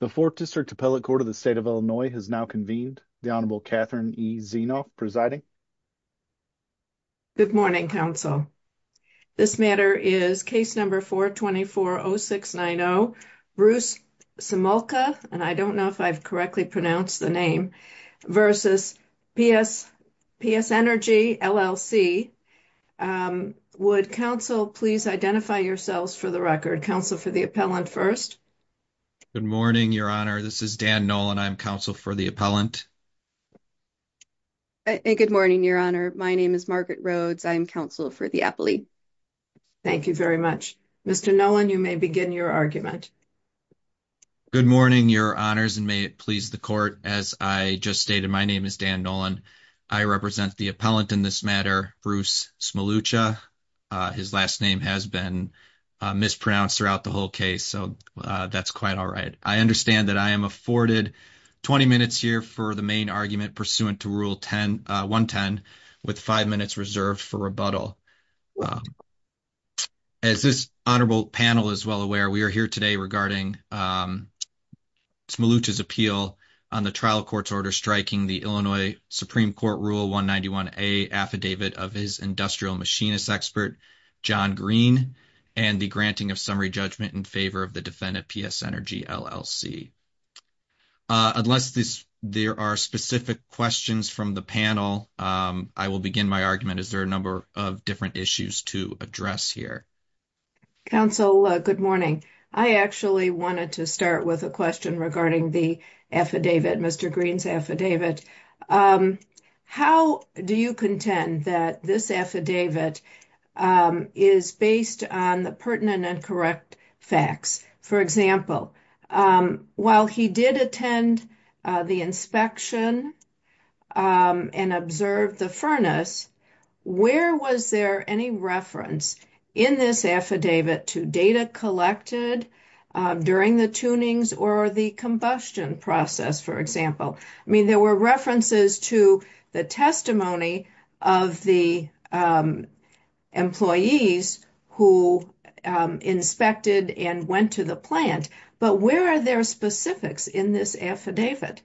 The Fourth District Appellate Court of the State of Illinois has now convened. The Honorable Catherine E. Zenoff presiding. Good morning, counsel. This matter is case number 424-0690, Bruce Smolucha, and I don't know if I've correctly pronounced the name, versus PSNERGY, LLC. Would counsel please identify yourselves for the record? Counsel for the appellant first. Good morning, Your Honor. This is Dan Nolan. I'm counsel for the appellant. Good morning, Your Honor. My name is Margaret Rhodes. I'm counsel for the appellate. Thank you very much. Mr. Nolan, you may begin your argument. Good morning, Your Honors, and may it please the court. As I just stated, my name is Dan Nolan. I represent the appellant in this matter, Bruce Smolucha. His last name has been mispronounced throughout the whole case, so that's quite all right. I understand that I am afforded 20 minutes here for the main argument pursuant to Rule 110, with five minutes reserved for rebuttal. As this honorable panel is well aware, we are here today regarding Smolucha's appeal on the trial court's order striking the Illinois Supreme Court Rule 191A affidavit of his industrial machinist expert, John Green, and the granting of summary judgment in favor of the defendant, PSNRG, LLC. Unless there are specific questions from the panel, I will begin my argument. Is there a number of different issues to address here? Counsel, good morning. I actually wanted to start with a question regarding the affidavit, Mr. Green's affidavit. How do you contend that this affidavit is based on the pertinent and correct facts? For example, while he did attend the inspection and observed the furnace, where was there any reference in this affidavit to data collected during the tunings or the combustion process, for example? I mean, there were references to the testimony of the employees who inspected and went to the plant, but where are their specifics in this affidavit?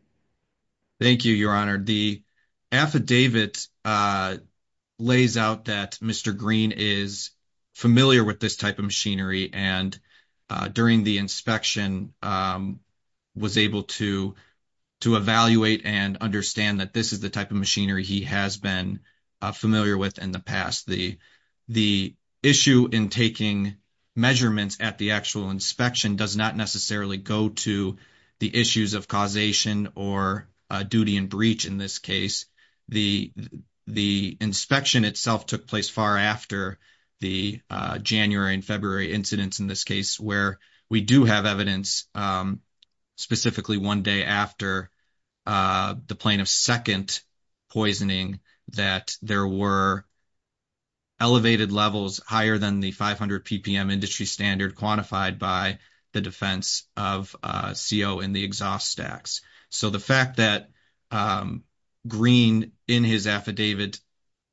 Thank you, Your Honor. The affidavit lays out that Mr. Green is familiar with this type of machinery and during the inspection was able to evaluate and understand that this is the type of machinery he has been familiar with in the past. The issue in taking measurements at the actual inspection does not necessarily go to the issues of causation or duty and breach in this case. The inspection itself took place far after the January and February incidents in this case where we do have evidence specifically one day after the plane of second poisoning that there were elevated levels higher than the 500 ppm industry standard quantified by the defense of CO in the exhaust stacks. So the fact that Green in his affidavit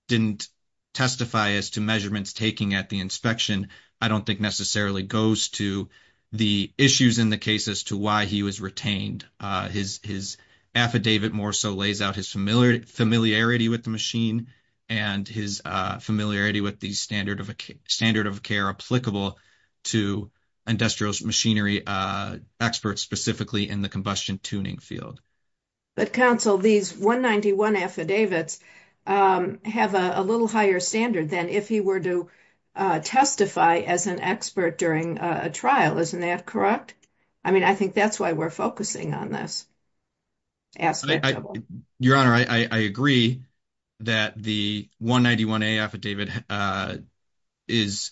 didn't testify as to measurements taken at the inspection I don't think necessarily goes to the issues in the case as to why he was retained. His affidavit more so lays out his familiarity with the machine and his familiarity with the standard of care applicable to industrial machinery experts specifically in the combustion tuning field. But counsel these 191 affidavits have a little higher standard than if he were to testify as an expert during a trial, isn't that correct? I mean I think that's why we're focusing on this. Your honor I agree that the 191a affidavit is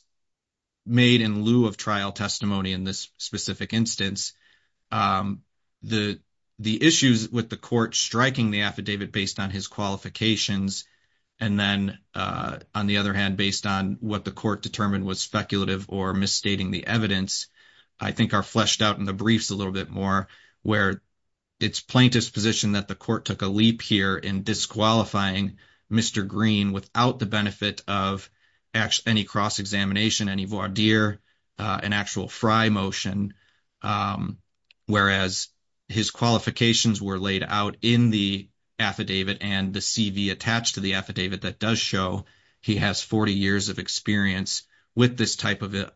made in lieu of trial testimony in this specific instance. The issues with the court striking the affidavit based on his qualifications and then on the other hand based on what the court determined was speculative or misstating the I think are fleshed out in the briefs a little bit more where it's plaintiff's position that the court took a leap here in disqualifying Mr. Green without the benefit of any cross examination any voir dire an actual fry motion whereas his qualifications were laid out in the affidavit and the cv attached to the affidavit that does show he has 40 years of experience with this type of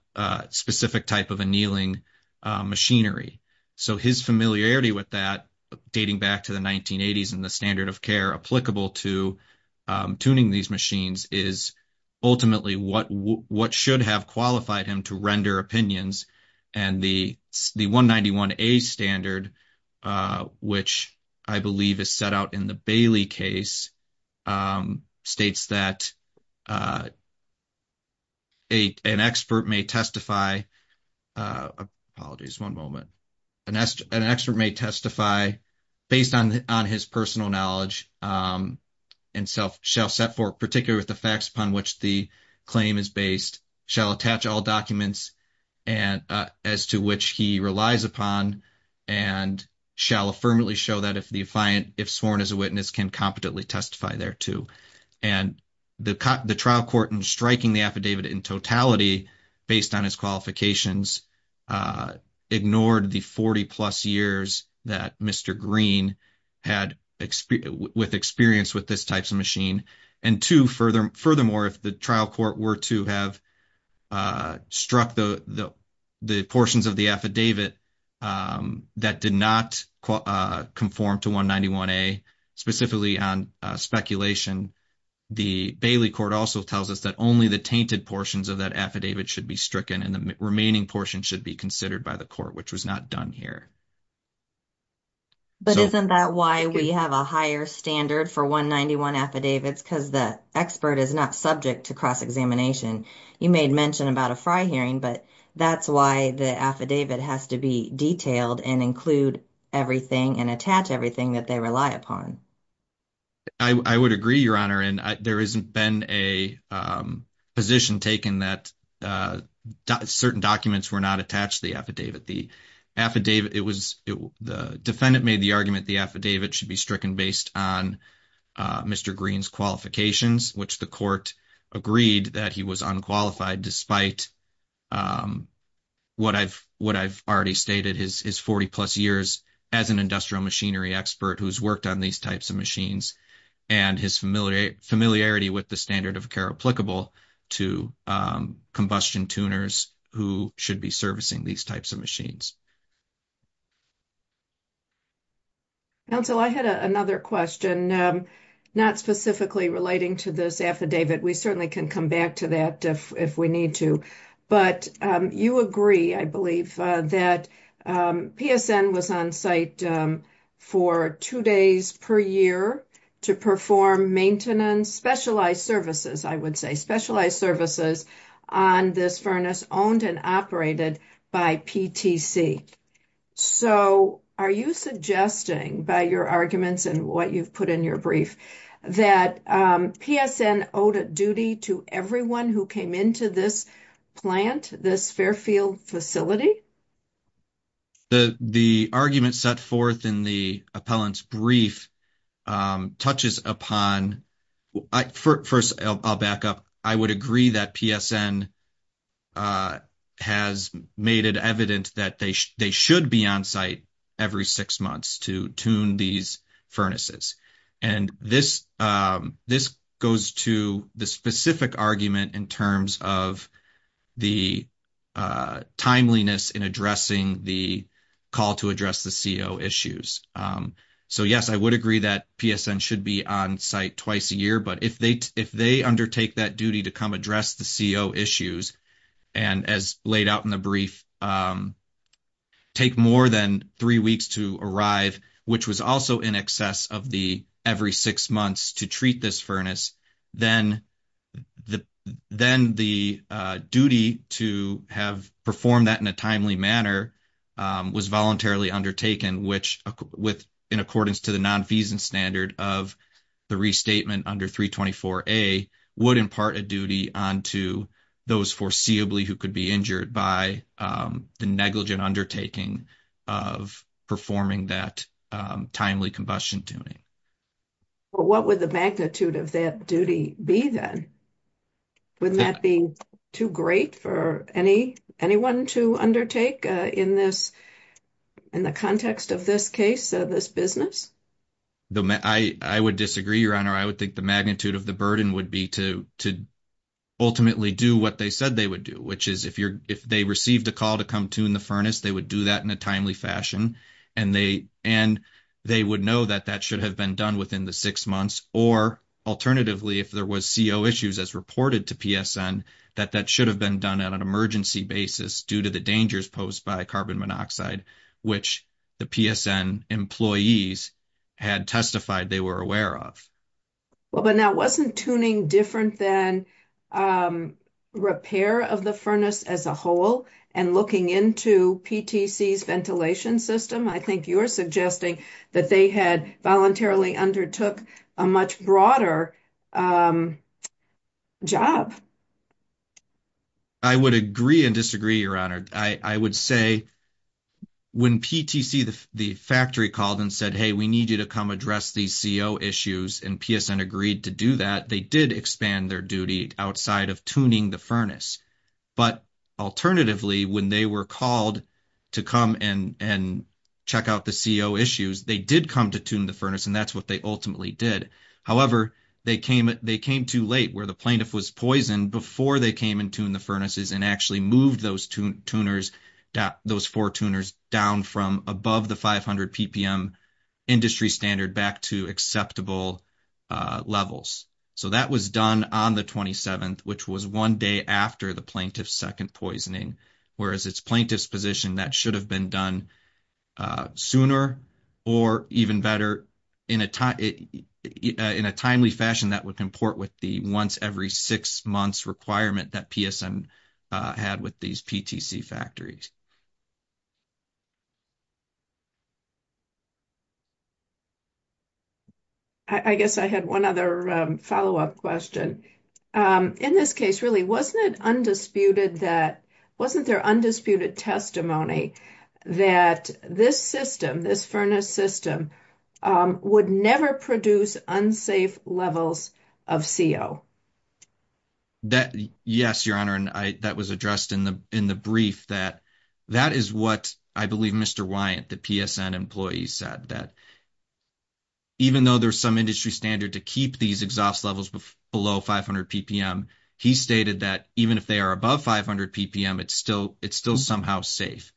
specific type of annealing machinery. So his familiarity with that dating back to the 1980s and the standard of care applicable to tuning these machines is ultimately what should have qualified him to render opinions and the 191a standard which I believe is set out in the Bailey case states that an expert may testify apologies one moment an expert may testify based on on his personal knowledge and self shall set forth particularly with the facts upon which the claim is based shall attach all documents and as to which he relies upon and shall affirmatively show that if the defiant if sworn as a witness can competently testify thereto and the trial court in striking the affidavit in totality based on his qualifications ignored the 40 plus years that Mr. Green had with experience with this type of machine and two further furthermore if the trial court were to have struck the the portions of the that did not conform to 191a specifically on speculation the Bailey court also tells us that only the tainted portions of that affidavit should be stricken and the remaining portion should be considered by the court which was not done here but isn't that why we have a higher standard for 191 affidavits because the expert is not subject to cross-examination you made mention about a fry hearing but that's why the affidavit has to be detailed and include everything and attach everything that they rely upon I would agree your honor and there hasn't been a position taken that certain documents were not attached to the affidavit the affidavit it was the defendant made the argument the affidavit should be stricken based on Mr. Green's qualifications which the court agreed that was unqualified despite what I've already stated his 40 plus years as an industrial machinery expert who's worked on these types of machines and his familiarity with the standard of care applicable to combustion tuners who should be servicing these types of machines counsel I had another question not specifically relating to this affidavit we certainly can come back to that if we need to but you agree I believe that PSN was on site for two days per year to perform maintenance specialized services I would say specialized services on this furnace owned and operated by PTC so are you suggesting by your arguments and what you've put in your brief that PSN owed a duty to everyone who came into this plant this Fairfield facility the the argument set forth in the appellant's brief touches upon I first I'll back up I would agree that PSN has made it evident that they they should be on site every six months to tune these furnaces and this this goes to the specific argument in terms of the timeliness in addressing the call to address the CO issues so yes I would agree that PSN should be on site twice a year but if they if they undertake that duty to come address the CO issues and as laid out in the brief take more than three weeks to arrive which was also in excess of the every six months to treat this furnace then the then the duty to have performed that in a timely manner was voluntarily undertaken which with in accordance to the non-feasance standard of the restatement under 324a would impart a duty onto those foreseeably who could be injured by the negligent undertaking of performing that timely combustion tuning well what would the magnitude of that duty be then wouldn't that be too great for any anyone to undertake in this in the context of this case of this business though I I would disagree your honor I would think the magnitude of the burden would be to to ultimately do what they said they would do which is if you're if they received a call to come tune the furnace they would do that in a timely fashion and they and they would know that that should have been done within the six months or alternatively if there was CO issues as reported to PSN that that should have been done at an emergency basis due to the dangers posed by carbon monoxide which the PSN employees had testified they were aware of well but now wasn't tuning different than repair of the furnace as a whole and looking into PTC's ventilation system I think you're that they had voluntarily undertook a much broader job I would agree and disagree your honor I I would say when PTC the the factory called and said hey we need you to come address these CO issues and PSN agreed to do that they did expand their duty outside of tuning the furnace but alternatively when they were called to come and and check out the CO issues they did come to tune the furnace and that's what they ultimately did however they came they came too late where the plaintiff was poisoned before they came and tuned the furnaces and actually moved those two tuners those four tuners down from above the 500 ppm industry standard back to acceptable levels so that was done on the 27th which was one day after the plaintiff's second poisoning whereas its plaintiff's position that should have been done sooner or even better in a time in a timely fashion that would comport with the once every six months requirement that PSN had with these PTC factories I guess I had one other follow-up question in this case really wasn't it undisputed that wasn't there undisputed testimony that this system this furnace system would never produce unsafe levels of CO that yes your honor and I that was addressed in the brief that that is what I believe Mr. Wyant the PSN employee said that even though there's some industry standard to keep these exhaust levels below 500 ppm he stated that even if they are above 500 ppm it's still it's still somehow safe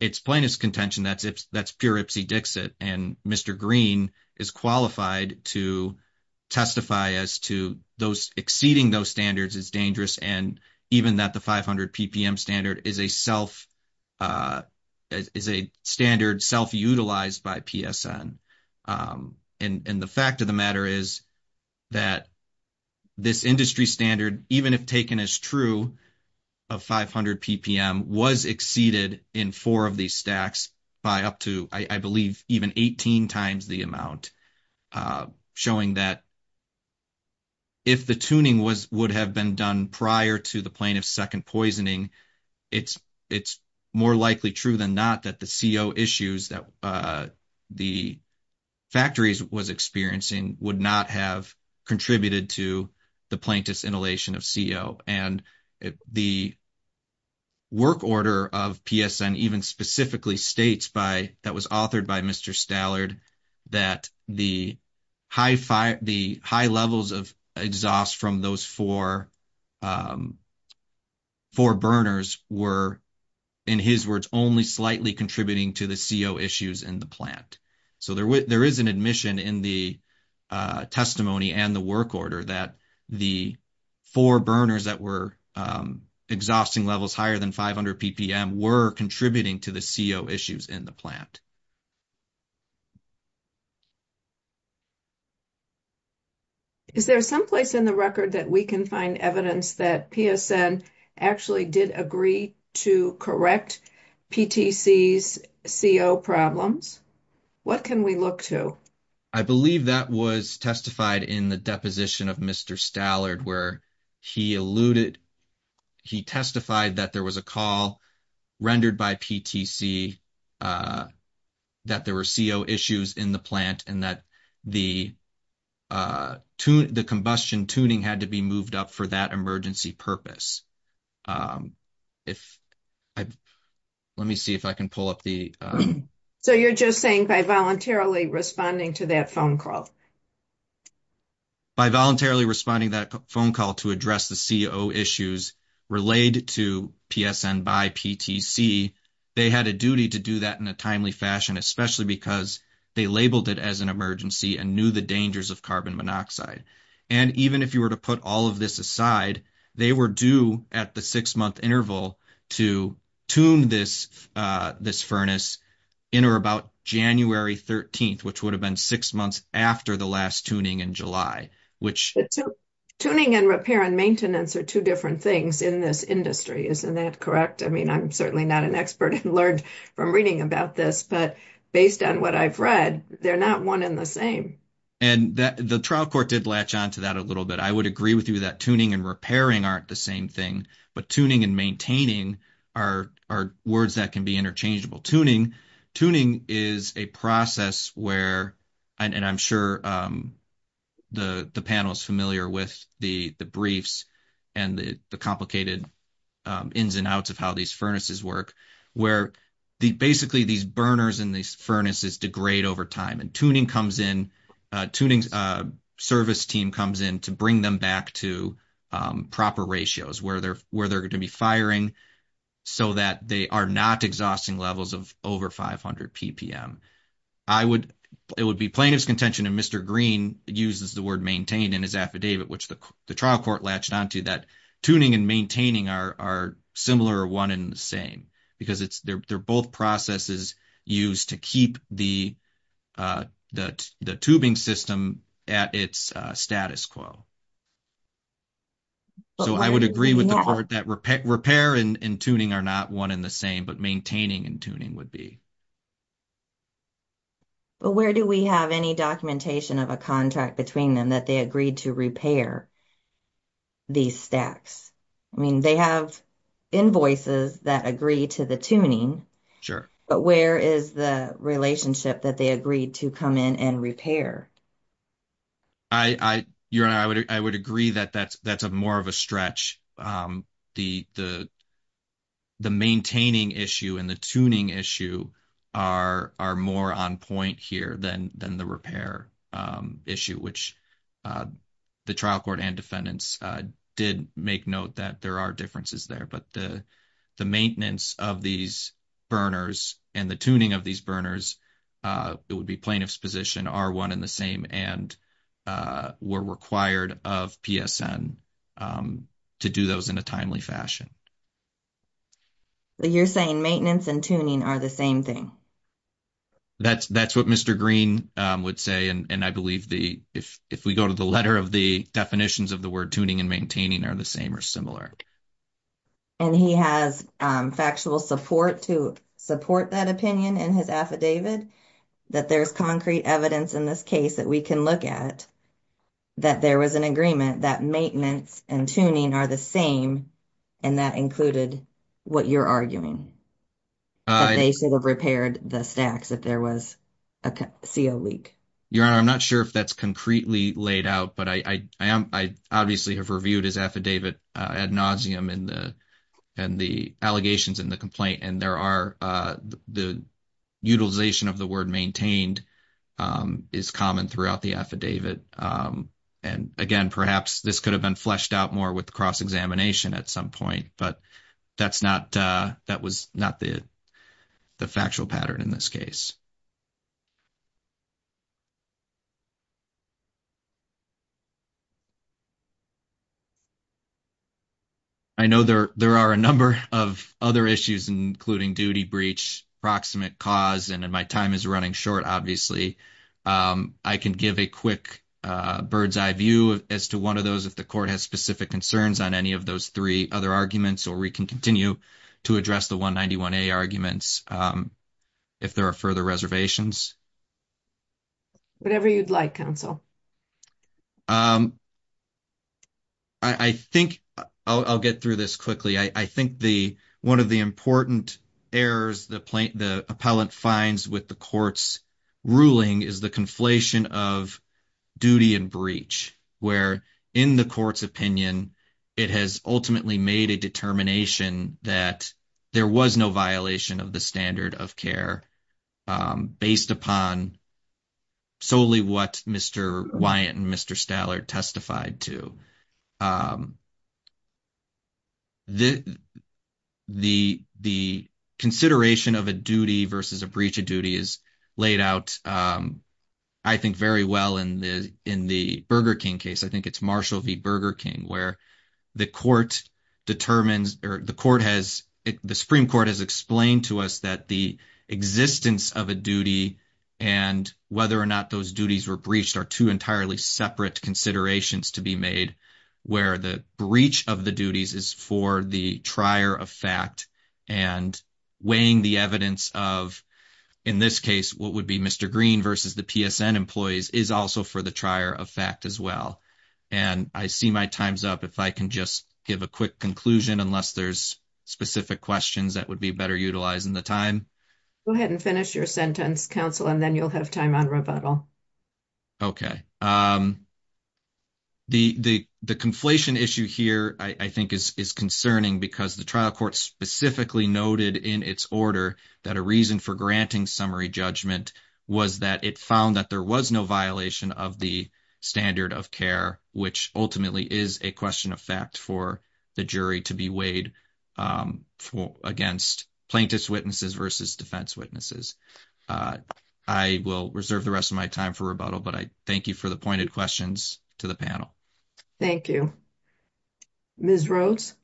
it's plaintiff's contention that's if that's pure ipsy dixit and Mr. Green is qualified to testify as to those exceeding those standards is dangerous and even that the 500 ppm standard is a self is a standard self-utilized by PSN and and the fact of the matter is that this industry standard even if taken as true of 500 ppm was exceeded in four of these stacks by up to I believe even 18 times the amount uh showing that if the tuning was would have been done prior to the plaintiff's second poisoning it's it's more likely true than not that the CO issues that uh the factories was experiencing would not have contributed to the plaintiff's inhalation of CO and the work order of PSN even specifically states by that was authored by Mr. Stallard that the high fire the high levels of exhaust from those four um four burners were in his words only slightly contributing to the CO issues in the plant so there is an admission in the testimony and the work order that the four burners that were exhausting levels higher than 500 ppm were contributing to the CO issues in the plant is there some place in the record that we can find evidence that PSN actually did agree to correct PTC's CO problems what can we look to I believe that was testified in the position of Mr. Stallard where he alluded he testified that there was a call rendered by PTC that there were CO issues in the plant and that the uh to the combustion tuning had to be moved up for that emergency purpose um if I let me see if I can pull up the so you're just saying by voluntarily responding to that phone call by voluntarily responding that phone call to address the CO issues relayed to PSN by PTC they had a duty to do that in a timely fashion especially because they labeled it as an emergency and knew the dangers of carbon monoxide and even if you were to put all of this aside they were due at the six month interval to tune this this furnace in or about January 13th which would have been six months after the last tuning in July which tuning and repair and maintenance are two different things in this industry isn't that correct I mean I'm certainly not an expert and learned from reading about this but based on what I've read they're not one in the same and that the trial court did latch on to that a little bit I would agree with you that tuning and repairing aren't the same thing but tuning and maintaining are are words that can be interchangeable tuning tuning is a process where and I'm sure um the the panel is familiar with the the briefs and the the complicated um ins and outs of how these furnaces work where the basically these burners in these furnaces degrade over time and tuning comes in uh tuning uh service team comes in to bring them back to um proper ratios where they're where they're going to be firing so that they are not exhausting levels of over 500 ppm I would it would be plaintiff's contention and Mr. Green uses the word maintained in his affidavit which the trial court latched on to that tuning and maintaining are are similar or one and the same because it's they're both processes used to keep the uh the the tubing system at its status quo so I would agree with the court that repair and tuning are not one in the same but maintaining and tuning would be but where do we have any documentation of a contract between them that they agreed to repair these stacks I mean they have invoices that agree to the tuning sure but where is the relationship that they agreed to come in and repair I I you and I would I would agree that that's that's a more of a stretch um the the the maintaining issue and the tuning issue are are more on point here than than the repair um issue which uh the trial court and defendants uh did make note that there are differences there but the the maintenance of these burners and the tuning of these burners uh it would be plaintiff's position are one in the same and uh were required of PSN um to do those in a timely fashion you're saying maintenance and tuning are the same thing that's that's what Mr. Green um would say and and I believe the if if we go to the letter of the definitions of the word tuning and maintaining are the same or similar and he has factual support to support that opinion in his affidavit that there's concrete evidence in this case that we can look at that there was an agreement that maintenance and tuning are the same and that included what you're arguing they should have repaired the stacks if there was a co leak your honor I'm not sure if that's concretely laid out but I I am I obviously have reviewed his affidavit ad nauseum in the and the allegations in the complaint and there are uh the utilization of the word maintained um is common throughout the affidavit um and again perhaps this could have been fleshed out more with cross-examination at some point but that's not uh that was not the the factual pattern in this case I know there there are a number of other issues including duty breach proximate cause and my time is running short obviously um I can give a quick uh bird's eye view as to one of those if the court has specific concerns on any of those three other arguments or we can continue to address the 191a arguments um if there are further reservations whatever you'd like counsel um I I think I'll get through this quickly I I think the one of the important errors the plaintiff the appellant finds with the court's ruling is the of duty and breach where in the court's opinion it has ultimately made a determination that there was no violation of the standard of care um based upon solely what Mr. Wyatt and Mr. Stallard testified to um the the the consideration of a duty versus a breach of duty is laid out um I think very well in the in the Burger King case I think it's Marshall v Burger King where the court determines or the court has the Supreme Court has explained to us that the existence of a duty and whether or not those duties were breached are two entirely separate considerations to be made where the breach of the duties is for the trier of fact and weighing the evidence of in this case what would be Mr. Green versus the PSN employees is also for the trier of fact as well and I see my time's up if I can just give a quick conclusion unless there's specific questions that would be better utilizing the time go ahead and finish your sentence counsel and then you'll have time on rebuttal okay um the the the conflation issue here I I think is is concerning because the trial court specifically noted in its order that a reason for granting summary judgment was that it found that there was no violation of the standard of care which ultimately is a question of fact for the jury to be weighed um against plaintiff's witnesses versus defense witnesses uh I will reserve the rest of my time for rebuttal but I thank you for the pointed questions to the panel thank you Ms. Rhodes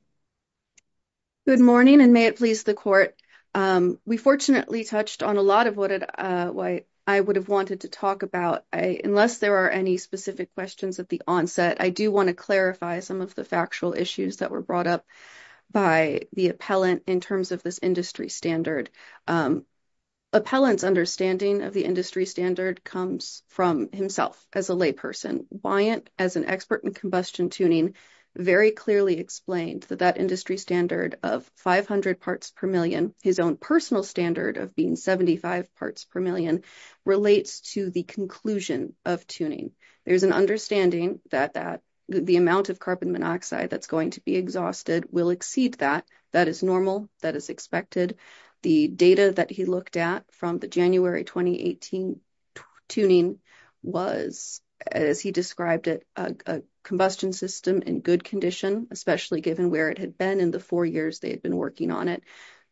good morning and may it please the court um we fortunately touched on a lot of what uh why I would have wanted to talk about I unless there are any specific questions at the onset I do want to clarify some of the factual issues that were brought up by the appellant in terms of this industry standard um appellant's understanding of the industry standard comes from himself as a layperson why it as an expert in combustion tuning very clearly explained that that industry standard of 500 parts per million his own personal standard of being 75 parts per million relates to the conclusion of tuning there's an understanding that that the amount of carbon monoxide that's going to be exhausted will exceed that that is is expected the data that he looked at from the January 2018 tuning was as he described it a combustion system in good condition especially given where it had been in the four years they had been working on it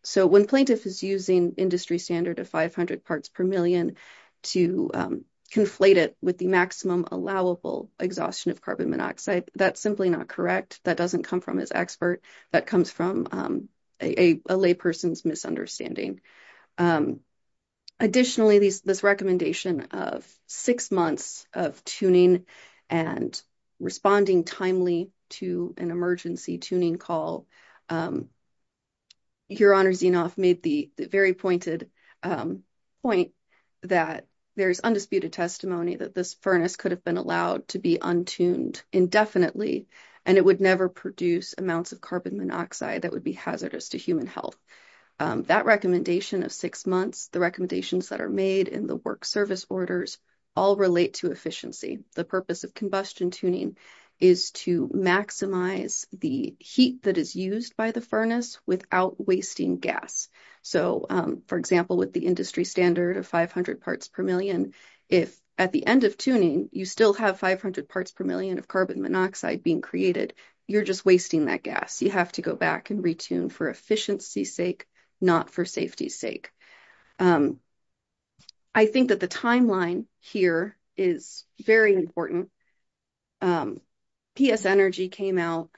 so when plaintiff is using industry standard of 500 parts per million to conflate it with the maximum allowable exhaustion of carbon monoxide that's simply not correct that doesn't come from his expert that comes from um a lay person's misunderstanding additionally this recommendation of six months of tuning and responding timely to an emergency tuning call um your honor xenoph made the very pointed um point that there's undisputed testimony that this furnace could have been allowed to be untuned indefinitely and it would never produce amounts of carbon monoxide that would be hazardous to human health that recommendation of six months the recommendations that are made in the work service orders all relate to efficiency the purpose of combustion tuning is to maximize the heat that is used by the furnace without wasting gas so um for example with the industry standard of 500 parts per million if at the end of tuning you still have 500 parts per million of carbon monoxide being created you're just wasting that gas you have to go back and retune for efficiency's sake not for safety's sake i think that the timeline here is very important um ps energy came out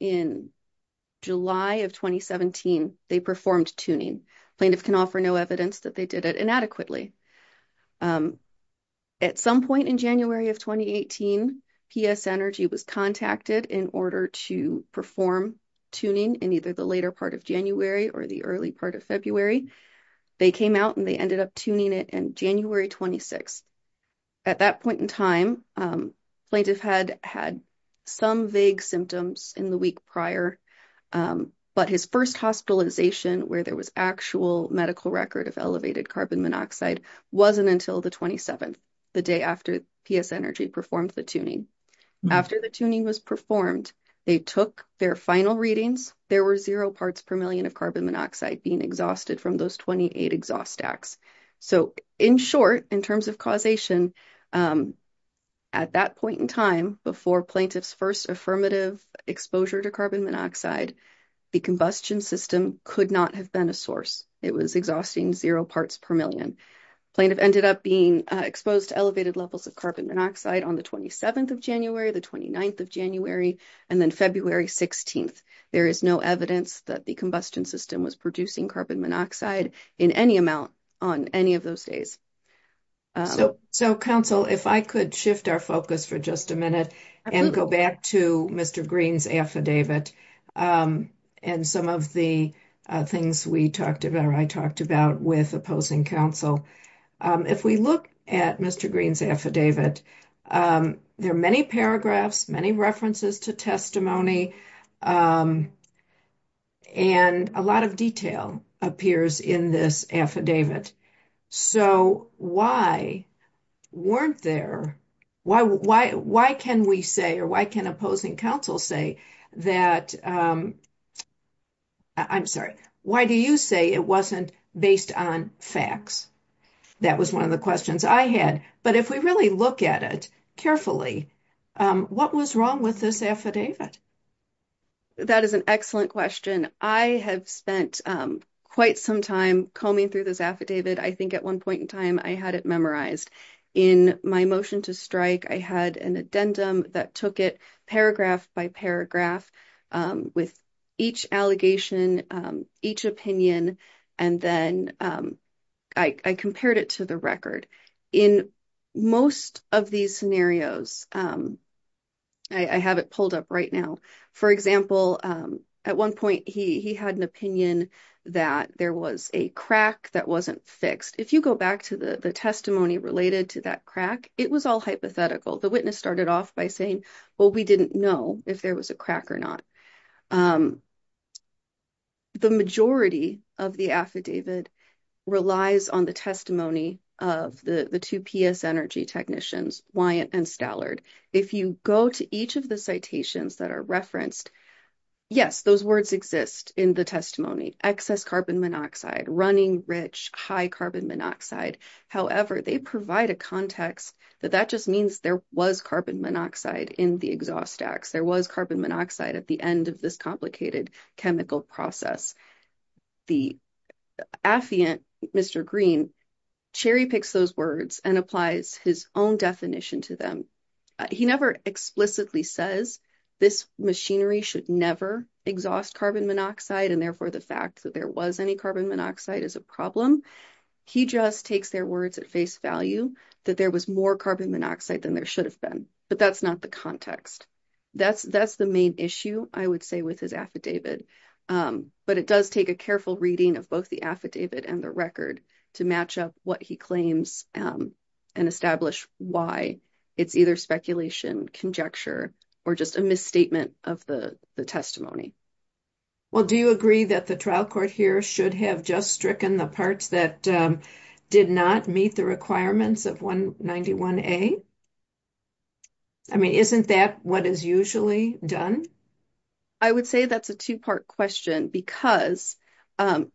in july of 2017 they performed tuning plaintiff can offer no evidence that they did it inadequately at some point in january of 2018 ps energy was contacted in order to perform tuning in either the later part of january or the early part of february they came out and they ended up tuning in january 26th at that point in time plaintiff had had some vague symptoms in the week prior but his first hospitalization where there was actual medical record of elevated carbon monoxide wasn't until the 27th the day after ps energy performed the tuning after the tuning was performed they took their final readings there were zero parts per million of carbon monoxide being exhausted from those 28 exhaust stacks so in short in terms of causation at that point in time before plaintiff's first affirmative exposure to carbon monoxide the combustion system could not have been a source it was exhausting zero parts per million plaintiff ended up being exposed to elevated levels of carbon monoxide on the 27th of january the 29th january and then february 16th there is no evidence that the combustion system was producing carbon monoxide in any amount on any of those days so so counsel if i could shift our focus for just a minute and go back to mr green's affidavit and some of the things we talked about i talked about with opposing counsel if we look at mr green's affidavit there are many paragraphs many references to testimony and a lot of detail appears in this affidavit so why weren't there why why why can we say or why can opposing counsel say that i'm sorry why do you say it wasn't based on facts that was one of the questions i had but if we really look at it carefully what was wrong with this affidavit that is an excellent question i have spent quite some time combing through this affidavit i think at one point in time i had it memorized in my motion to strike i had an addendum that took it paragraph by paragraph with each allegation each opinion and then i compared it to the record in most of these scenarios i have it pulled up right now for example at one point he he had an opinion that there was a crack that wasn't fixed if you go back to the the testimony related to that crack it was all hypothetical the witness started off by saying well we didn't know if there was a crack or not the majority of the affidavit relies on the testimony of the the two ps energy technicians wyant and stallard if you go to each of the citations that are referenced yes those words exist in the testimony excess carbon monoxide running rich high carbon monoxide however they provide a context that that just means there was carbon monoxide in the exhaust there was carbon monoxide at the end of this complicated chemical process the affiant mr green cherry picks those words and applies his own definition to them he never explicitly says this machinery should never exhaust carbon monoxide and therefore the fact that there was any carbon monoxide is a problem he just takes their words at face value that there was more carbon monoxide than there should have been but that's not the context that's that's the main issue i would say with his affidavit um but it does take a careful reading of both the affidavit and the record to match up what he claims um and establish why it's either speculation conjecture or just a misstatement of the the testimony well do you agree that the trial court here should have just stricken the parts that did not meet the requirements of 191a i mean isn't that what is usually done i would say that's a two-part question because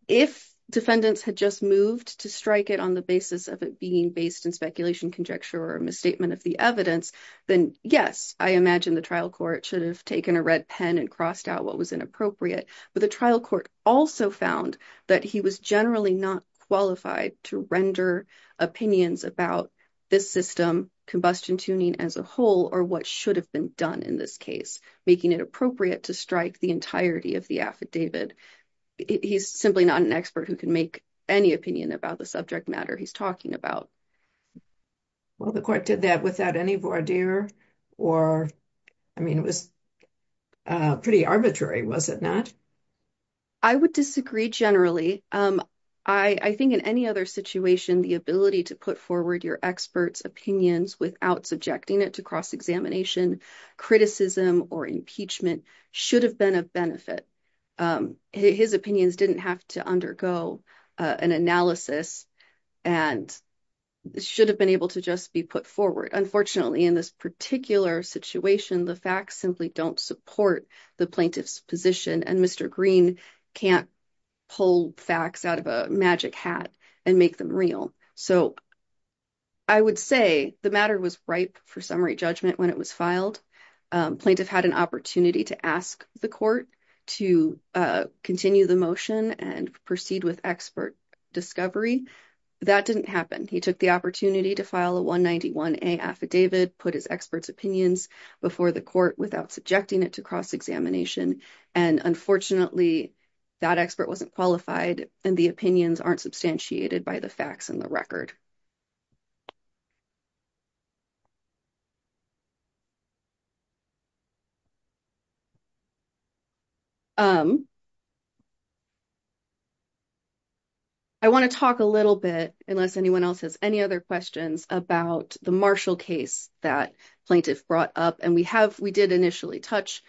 if defendants had just moved to strike it on the basis of it being based in speculation conjecture or misstatement of the evidence then yes i imagine the trial court should have taken a red pen and crossed out what was inappropriate but the trial court also found that he was generally not qualified to render opinions about this system combustion tuning as a whole or what should have been done in this case making it appropriate to strike the entirety of the affidavit he's simply not an expert who can make any opinion about the subject matter he's talking about well the court did that without any voir dire or i mean it was uh pretty arbitrary was it not i would disagree generally um i i think in any other situation the ability to put forward your experts opinions without subjecting it to cross-examination criticism or impeachment should have been of benefit his opinions didn't have to undergo an analysis and should have been able to just be put forward unfortunately in this particular situation the facts simply don't support the plaintiff's position and mr green can't pull facts out of a magic hat and make them real so i would say the matter was ripe for summary judgment when it was filed plaintiff had an opportunity to ask the court to continue the motion and proceed with expert discovery that didn't happen he took the opportunity to file a 191a affidavit put his experts opinions before the court without subjecting it to cross-examination and unfortunately that expert wasn't qualified and the opinions aren't substantiated by the facts and the record um i want to talk a little bit unless anyone else has any other questions about the marshall case that plaintiff brought up and we have we did initially touch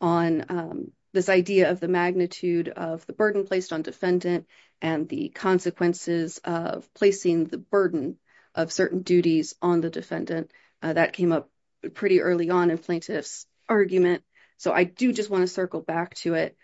on this idea of the magnitude of the burden placed on defendant and the consequences of placing the burden of certain duties on the defendant that came up pretty early on in plaintiff's argument so i do just want to circle back to it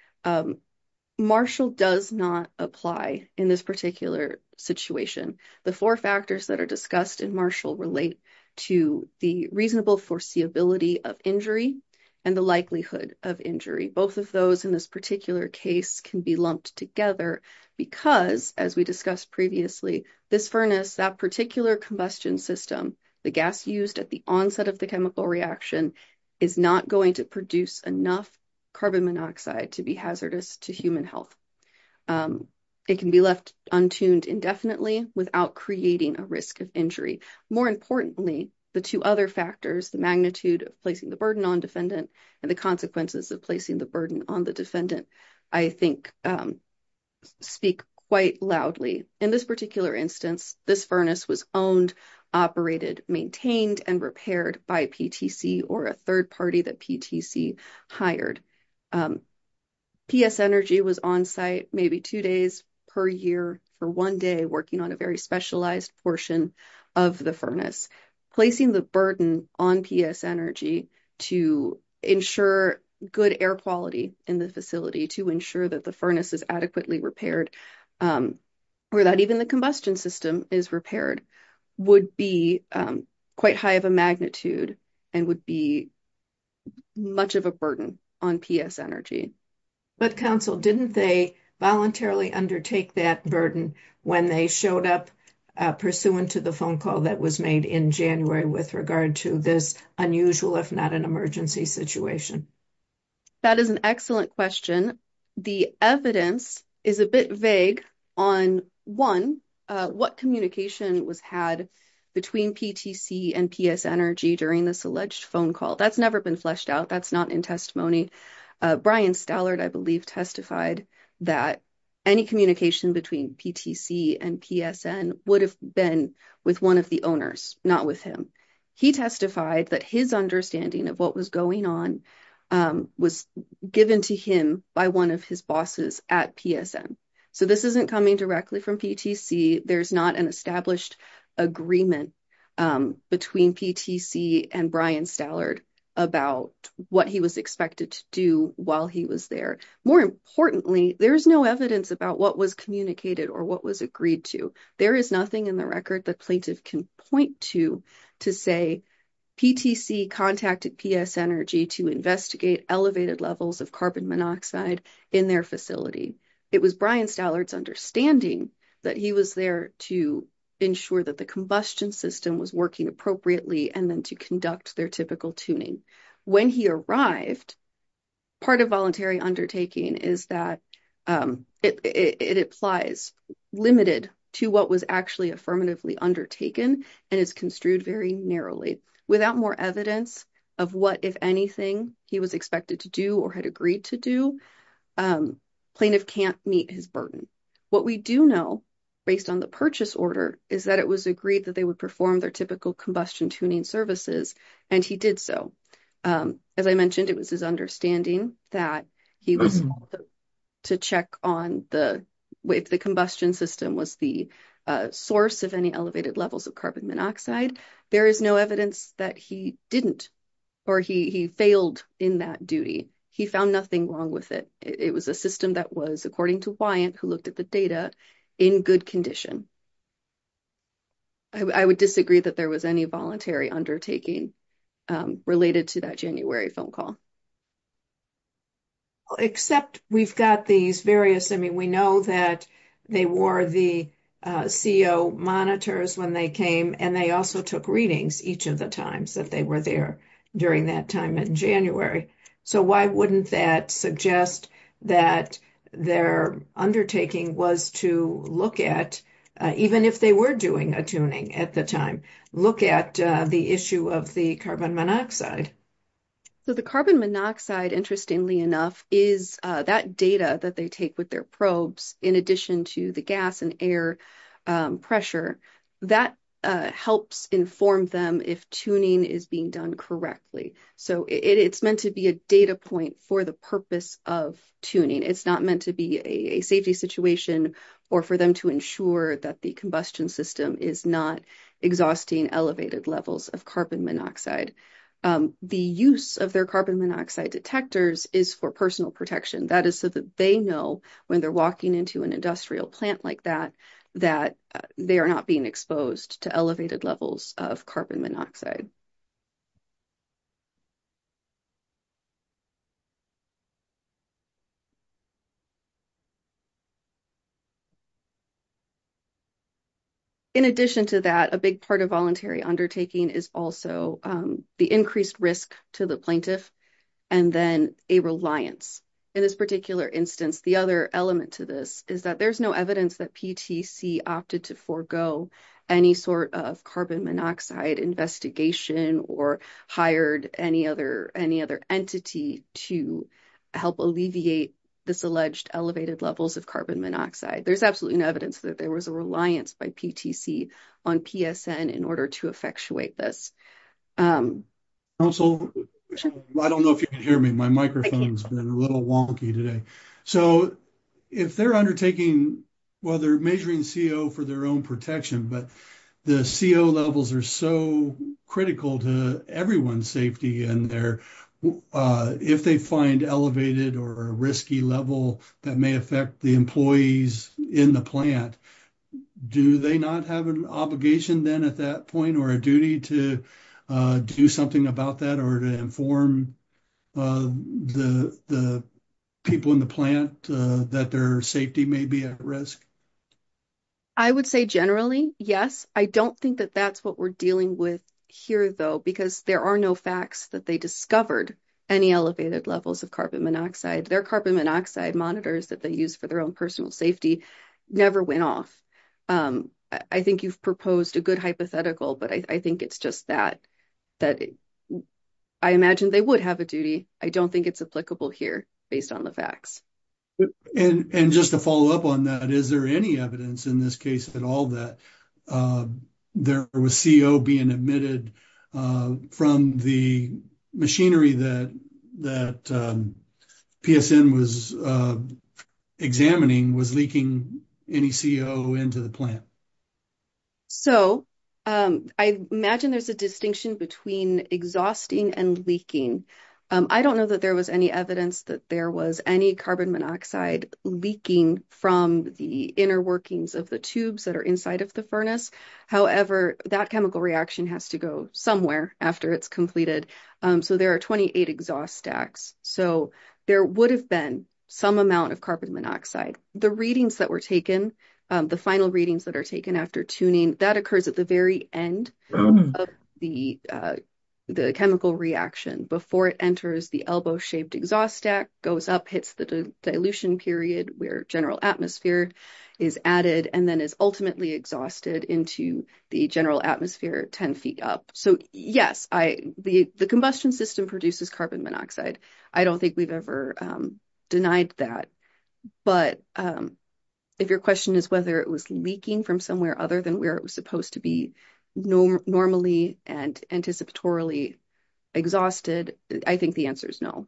marshall does not apply in this particular situation the four factors that are discussed in marshall relate to the reasonable foreseeability of injury and the likelihood of injury both of those in this particular case can be lumped together because as we discussed previously this furnace that particular combustion system the gas used at the onset of the chemical reaction is not going to produce enough carbon monoxide to be hazardous to human health it can be left untuned indefinitely without creating a risk of injury more importantly the two other factors the magnitude of placing the burden on defendant and the consequences of placing the on the defendant i think speak quite loudly in this particular instance this furnace was owned operated maintained and repaired by ptc or a third party that ptc hired ps energy was on site maybe two days per year for one day working on a very specialized portion of the furnace placing the burden on ps energy to ensure good air quality in the facility to ensure that the furnace is adequately repaired or that even the combustion system is repaired would be quite high of a magnitude and would be much of a burden on ps energy but counsel didn't they voluntarily undertake that burden when they showed up pursuant to the phone call that was made in january with regard to this unusual if not an emergency situation that is an excellent question the evidence is a bit vague on one what communication was had between ptc and ps energy during this alleged phone call that's never been fleshed out that's not in testimony brian stallard i believe testified that any communication between ptc and psn would have been with one of the owners not with him he testified that his understanding of what was going on was given to him by one of his bosses at psn so this isn't coming directly from ptc there's not an established agreement between ptc and brian stallard about what he was expected to do while he was there more importantly there is no evidence about what was communicated or what was agreed to there is nothing in the record that plaintiff can point to to say ptc contacted ps energy to investigate elevated levels of carbon monoxide in their facility it was brian stallard's understanding that he was there to ensure that the combustion system was working appropriately and then to conduct their typical tuning when he arrived part of voluntary undertaking is that it it applies limited to what was actually affirmatively undertaken and is construed very narrowly without more evidence of what if anything he was expected to do or had agreed to do um plaintiff can't meet his burden what we do know based on the purchase order is that it was agreed that they would perform their typical combustion tuning services and he did so um as i mentioned it was his understanding that he was to check on the way the combustion system was the source of any elevated levels of carbon monoxide there is no evidence that he didn't or he he it was a system that was according to wyant who looked at the data in good condition i would disagree that there was any voluntary undertaking related to that january phone call except we've got these various i mean we know that they wore the co monitors when they came and they also took readings each of the times that they were there during that time in january so why wouldn't that suggest that their undertaking was to look at even if they were doing a tuning at the time look at the issue of the carbon monoxide so the carbon monoxide interestingly enough is that data that they take with their probes in addition to the gas and air pressure that helps inform them if tuning is being done correctly so it's meant to be a data point for the purpose of tuning it's not meant to be a safety situation or for them to ensure that the combustion system is not exhausting elevated levels of carbon monoxide the use of their carbon monoxide detectors is for personal protection that is so that they know when they're walking into an industrial plant like that that they are not being exposed to elevated levels of carbon monoxide so in addition to that a big part of voluntary undertaking is also the increased risk to the plaintiff and then a reliance in this particular instance the other element to this is that there's no evidence that ptc opted to forego any sort of carbon monoxide investigation or hired any other any other entity to help alleviate this alleged elevated levels of carbon monoxide there's absolutely no evidence that there was a reliance by ptc on psn in order to effectuate this um also i don't know if you can hear me my microphone's been a little wonky today so if they're undertaking well they're measuring co for their own protection but the co levels are so critical to everyone's safety and they're uh if they find elevated or a risky level that may affect the employees in the plant do they not have an obligation then at that point or a duty to do something about that or to inform the the people in the plant that their safety may be at risk i would say generally yes i don't think that that's what we're dealing with here though because there are no facts that they discovered any elevated levels of carbon monoxide their carbon monoxide monitors that they use for their own personal safety never went off um i think you've proposed a good hypothetical but i think it's just that that i imagine they would have a duty i don't think it's applicable here based on the facts and and just to follow up on that is there any evidence in this case at all that uh there was co being emitted uh from the machinery that that psn was uh examining was leaking any co into the plant so um i imagine there's a distinction between exhausting and leaking um i don't know that there was any evidence that there was any carbon monoxide leaking from the inner workings of the tubes that are inside of the furnace however that chemical reaction has to go somewhere after it's completed um so there are 28 exhaust stacks so there would have been some amount of carbon monoxide the readings that were taken the final readings that are taken after tuning that occurs at the very end of the uh the chemical reaction before it enters the elbow shaped exhaust stack goes up hits the dilution period where general atmosphere is added and then is ultimately exhausted into the general atmosphere 10 feet up so yes i the the combustion system produces carbon monoxide i don't think we've ever um denied that but um if your question is whether it was leaking from somewhere other than where it was supposed to be normally and anticipatorily exhausted i think the answer is no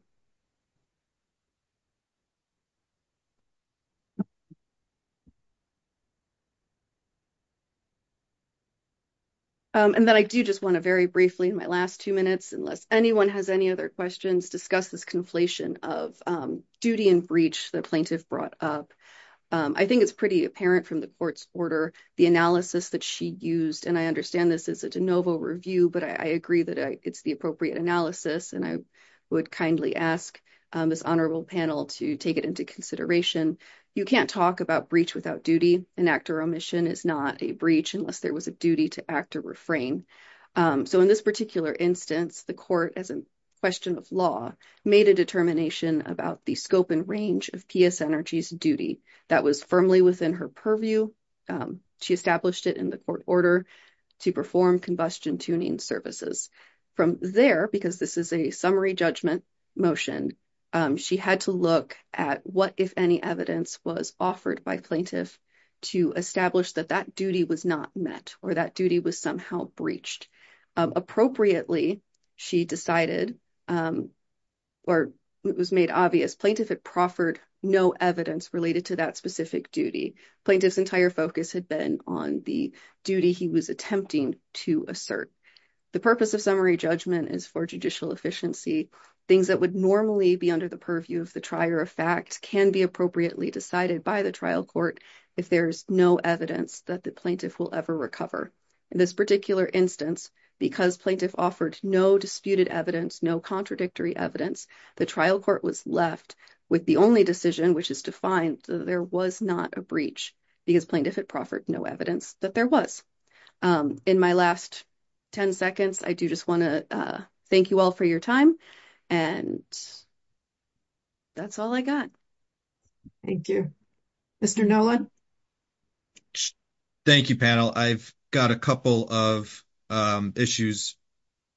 and then i do just want to very briefly in my last two minutes unless anyone has any other questions discuss this conflation of um duty and breach the plaintiff brought up i think it's pretty apparent from the court's order the analysis that she used and i understand this is a de novo review but i agree that it's the appropriate analysis and i would kindly ask this honorable panel to take it into consideration you can't talk about breach without duty an act or omission is not a breach unless there was a duty to act or refrain so in this particular instance the court as a question of law made a determination about the scope and range of ps energies duty that was firmly within her purview she established it in the court order to perform combustion tuning services from there because this is a summary judgment motion she had to look at what if any evidence was offered by plaintiff to establish that that was not met or that duty was somehow breached appropriately she decided or it was made obvious plaintiff had proffered no evidence related to that specific duty plaintiff's entire focus had been on the duty he was attempting to assert the purpose of summary judgment is for judicial efficiency things that would normally be under the purview of the trier of fact can be evidence that the plaintiff will ever recover in this particular instance because plaintiff offered no disputed evidence no contradictory evidence the trial court was left with the only decision which is defined there was not a breach because plaintiff had proffered no evidence that there was um in my last 10 seconds i do just want to thank you all for your time and that's all i thank you mr nolan thank you panel i've got a couple of um issues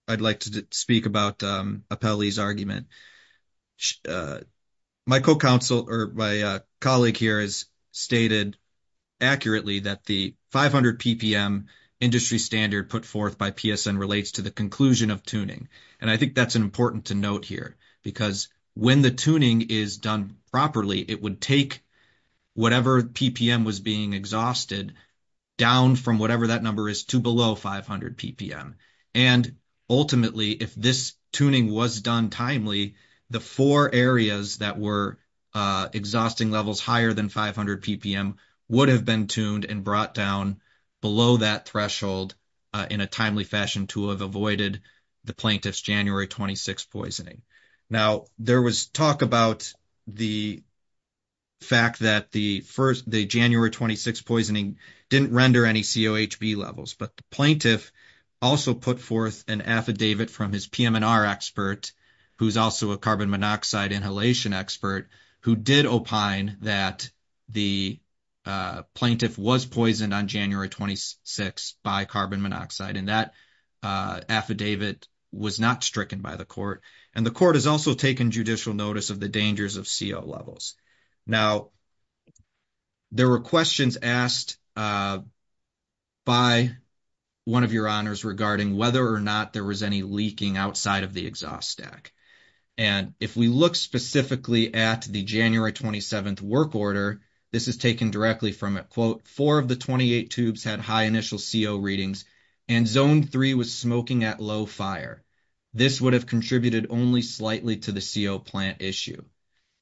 i'd like to speak about um appellee's argument my co-counsel or my colleague here has stated accurately that the 500 ppm industry standard put forth by psn relates to the conclusion of tuning and i think that's important to note here because when the tuning is done properly it would take whatever ppm was being exhausted down from whatever that number is to below 500 ppm and ultimately if this tuning was done timely the four areas that were uh exhausting levels higher than 500 ppm would have been tuned and brought down below that threshold in a timely fashion to have avoided the plaintiff's january 26 poisoning now there was talk about the fact that the first the january 26 poisoning didn't render any cohb levels but the plaintiff also put forth an affidavit from his pmr expert who's also a inhalation expert who did opine that the plaintiff was poisoned on january 26 by carbon monoxide and that affidavit was not stricken by the court and the court has also taken judicial notice of the dangers of co levels now there were questions asked by one of your honors regarding whether or not there was any leaking outside of the exhaust stack and if we look specifically at the january 27th work order this is taken directly from it quote four of the 28 tubes had high initial co readings and zone three was smoking at low fire this would have contributed only slightly to the co plant issue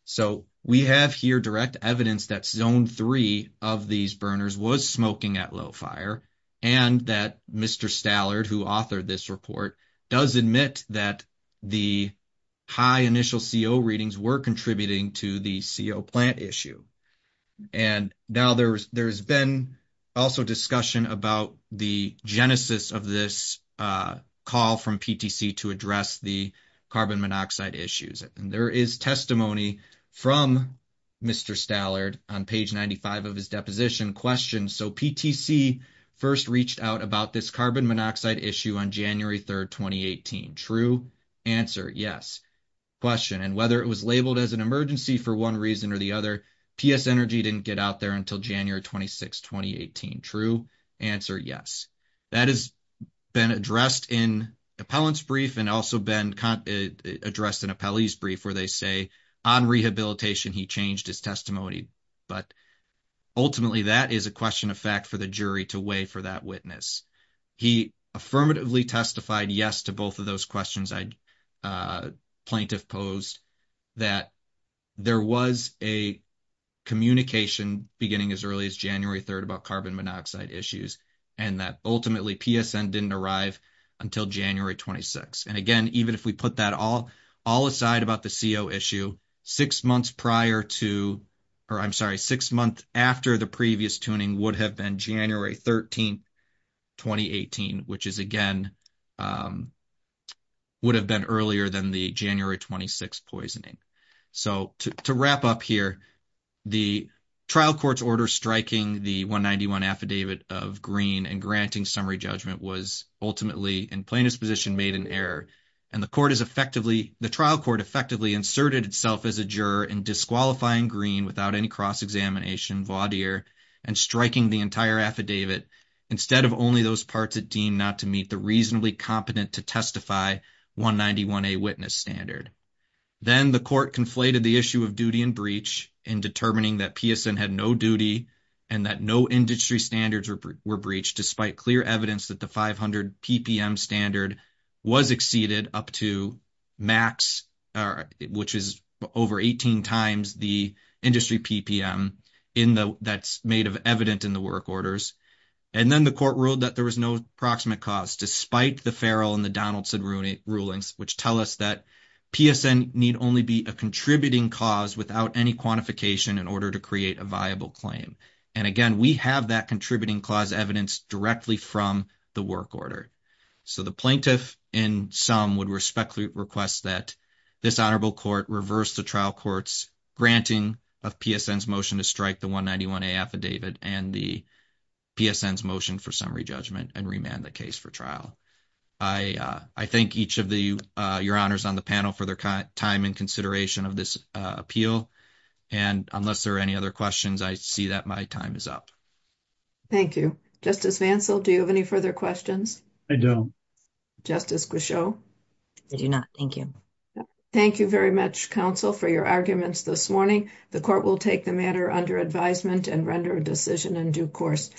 so we have here direct evidence that zone three of these burners was smoking at low fire and that mr stallard who authored this report does admit that the high initial co readings were contributing to the co plant issue and now there's there's been also discussion about the genesis of this uh call from ptc to address the carbon monoxide issues and there is testimony from mr stallard on page 95 of his deposition questions so ptc first reached out about this carbon monoxide issue on january 3rd 2018 true answer yes question and whether it was labeled as an emergency for one reason or the other ps energy didn't get out there until january 26 2018 true answer yes that has been addressed in appellant's brief and also been addressed in brief where they say on rehabilitation he changed his testimony but ultimately that is a question of fact for the jury to weigh for that witness he affirmatively testified yes to both of those questions i'd uh plaintiff posed that there was a communication beginning as early as january 3rd about carbon monoxide issues and that ultimately psn didn't arrive until january 26 and again even if we put that all all aside about the co issue six months prior to or i'm sorry six months after the previous tuning would have been january 13 2018 which is again um would have been earlier than the january 26 poisoning so to wrap up here the trial court's order striking the 191 affidavit of green and granting summary judgment was ultimately in plaintiff's position made an error and the court is effectively the trial court effectively inserted itself as a juror in disqualifying green without any cross-examination vaudeer and striking the entire affidavit instead of only those parts that deemed not to meet the reasonably competent to testify 191a witness standard then the court conflated the issue of duty and breach in determining that psn had no duty and that no industry standards were breached despite clear evidence that the 500 ppm standard was exceeded up to max or which is over 18 times the industry ppm in the that's made of evident in the work orders and then the court ruled that there was no approximate cause despite the farrell and the donaldson ruling rulings which tell us that psn need only be a contributing cause without any quantification in order to create a viable claim and again we have that contributing clause evidence directly from the work order so the plaintiff in sum would respectfully request that this honorable court reverse the trial court's granting of psn's motion to strike the 191a affidavit and the psn's motion for summary judgment and remand the case for trial i uh i thank each of the uh your honors on the panel for their time and consideration of this uh appeal and unless there are any other questions i see that my time is up thank you justice vansell do you have any further questions i don't justice guichaud i do not thank you thank you very much counsel for your arguments this morning the court will take the matter under advisement and render a decision in due course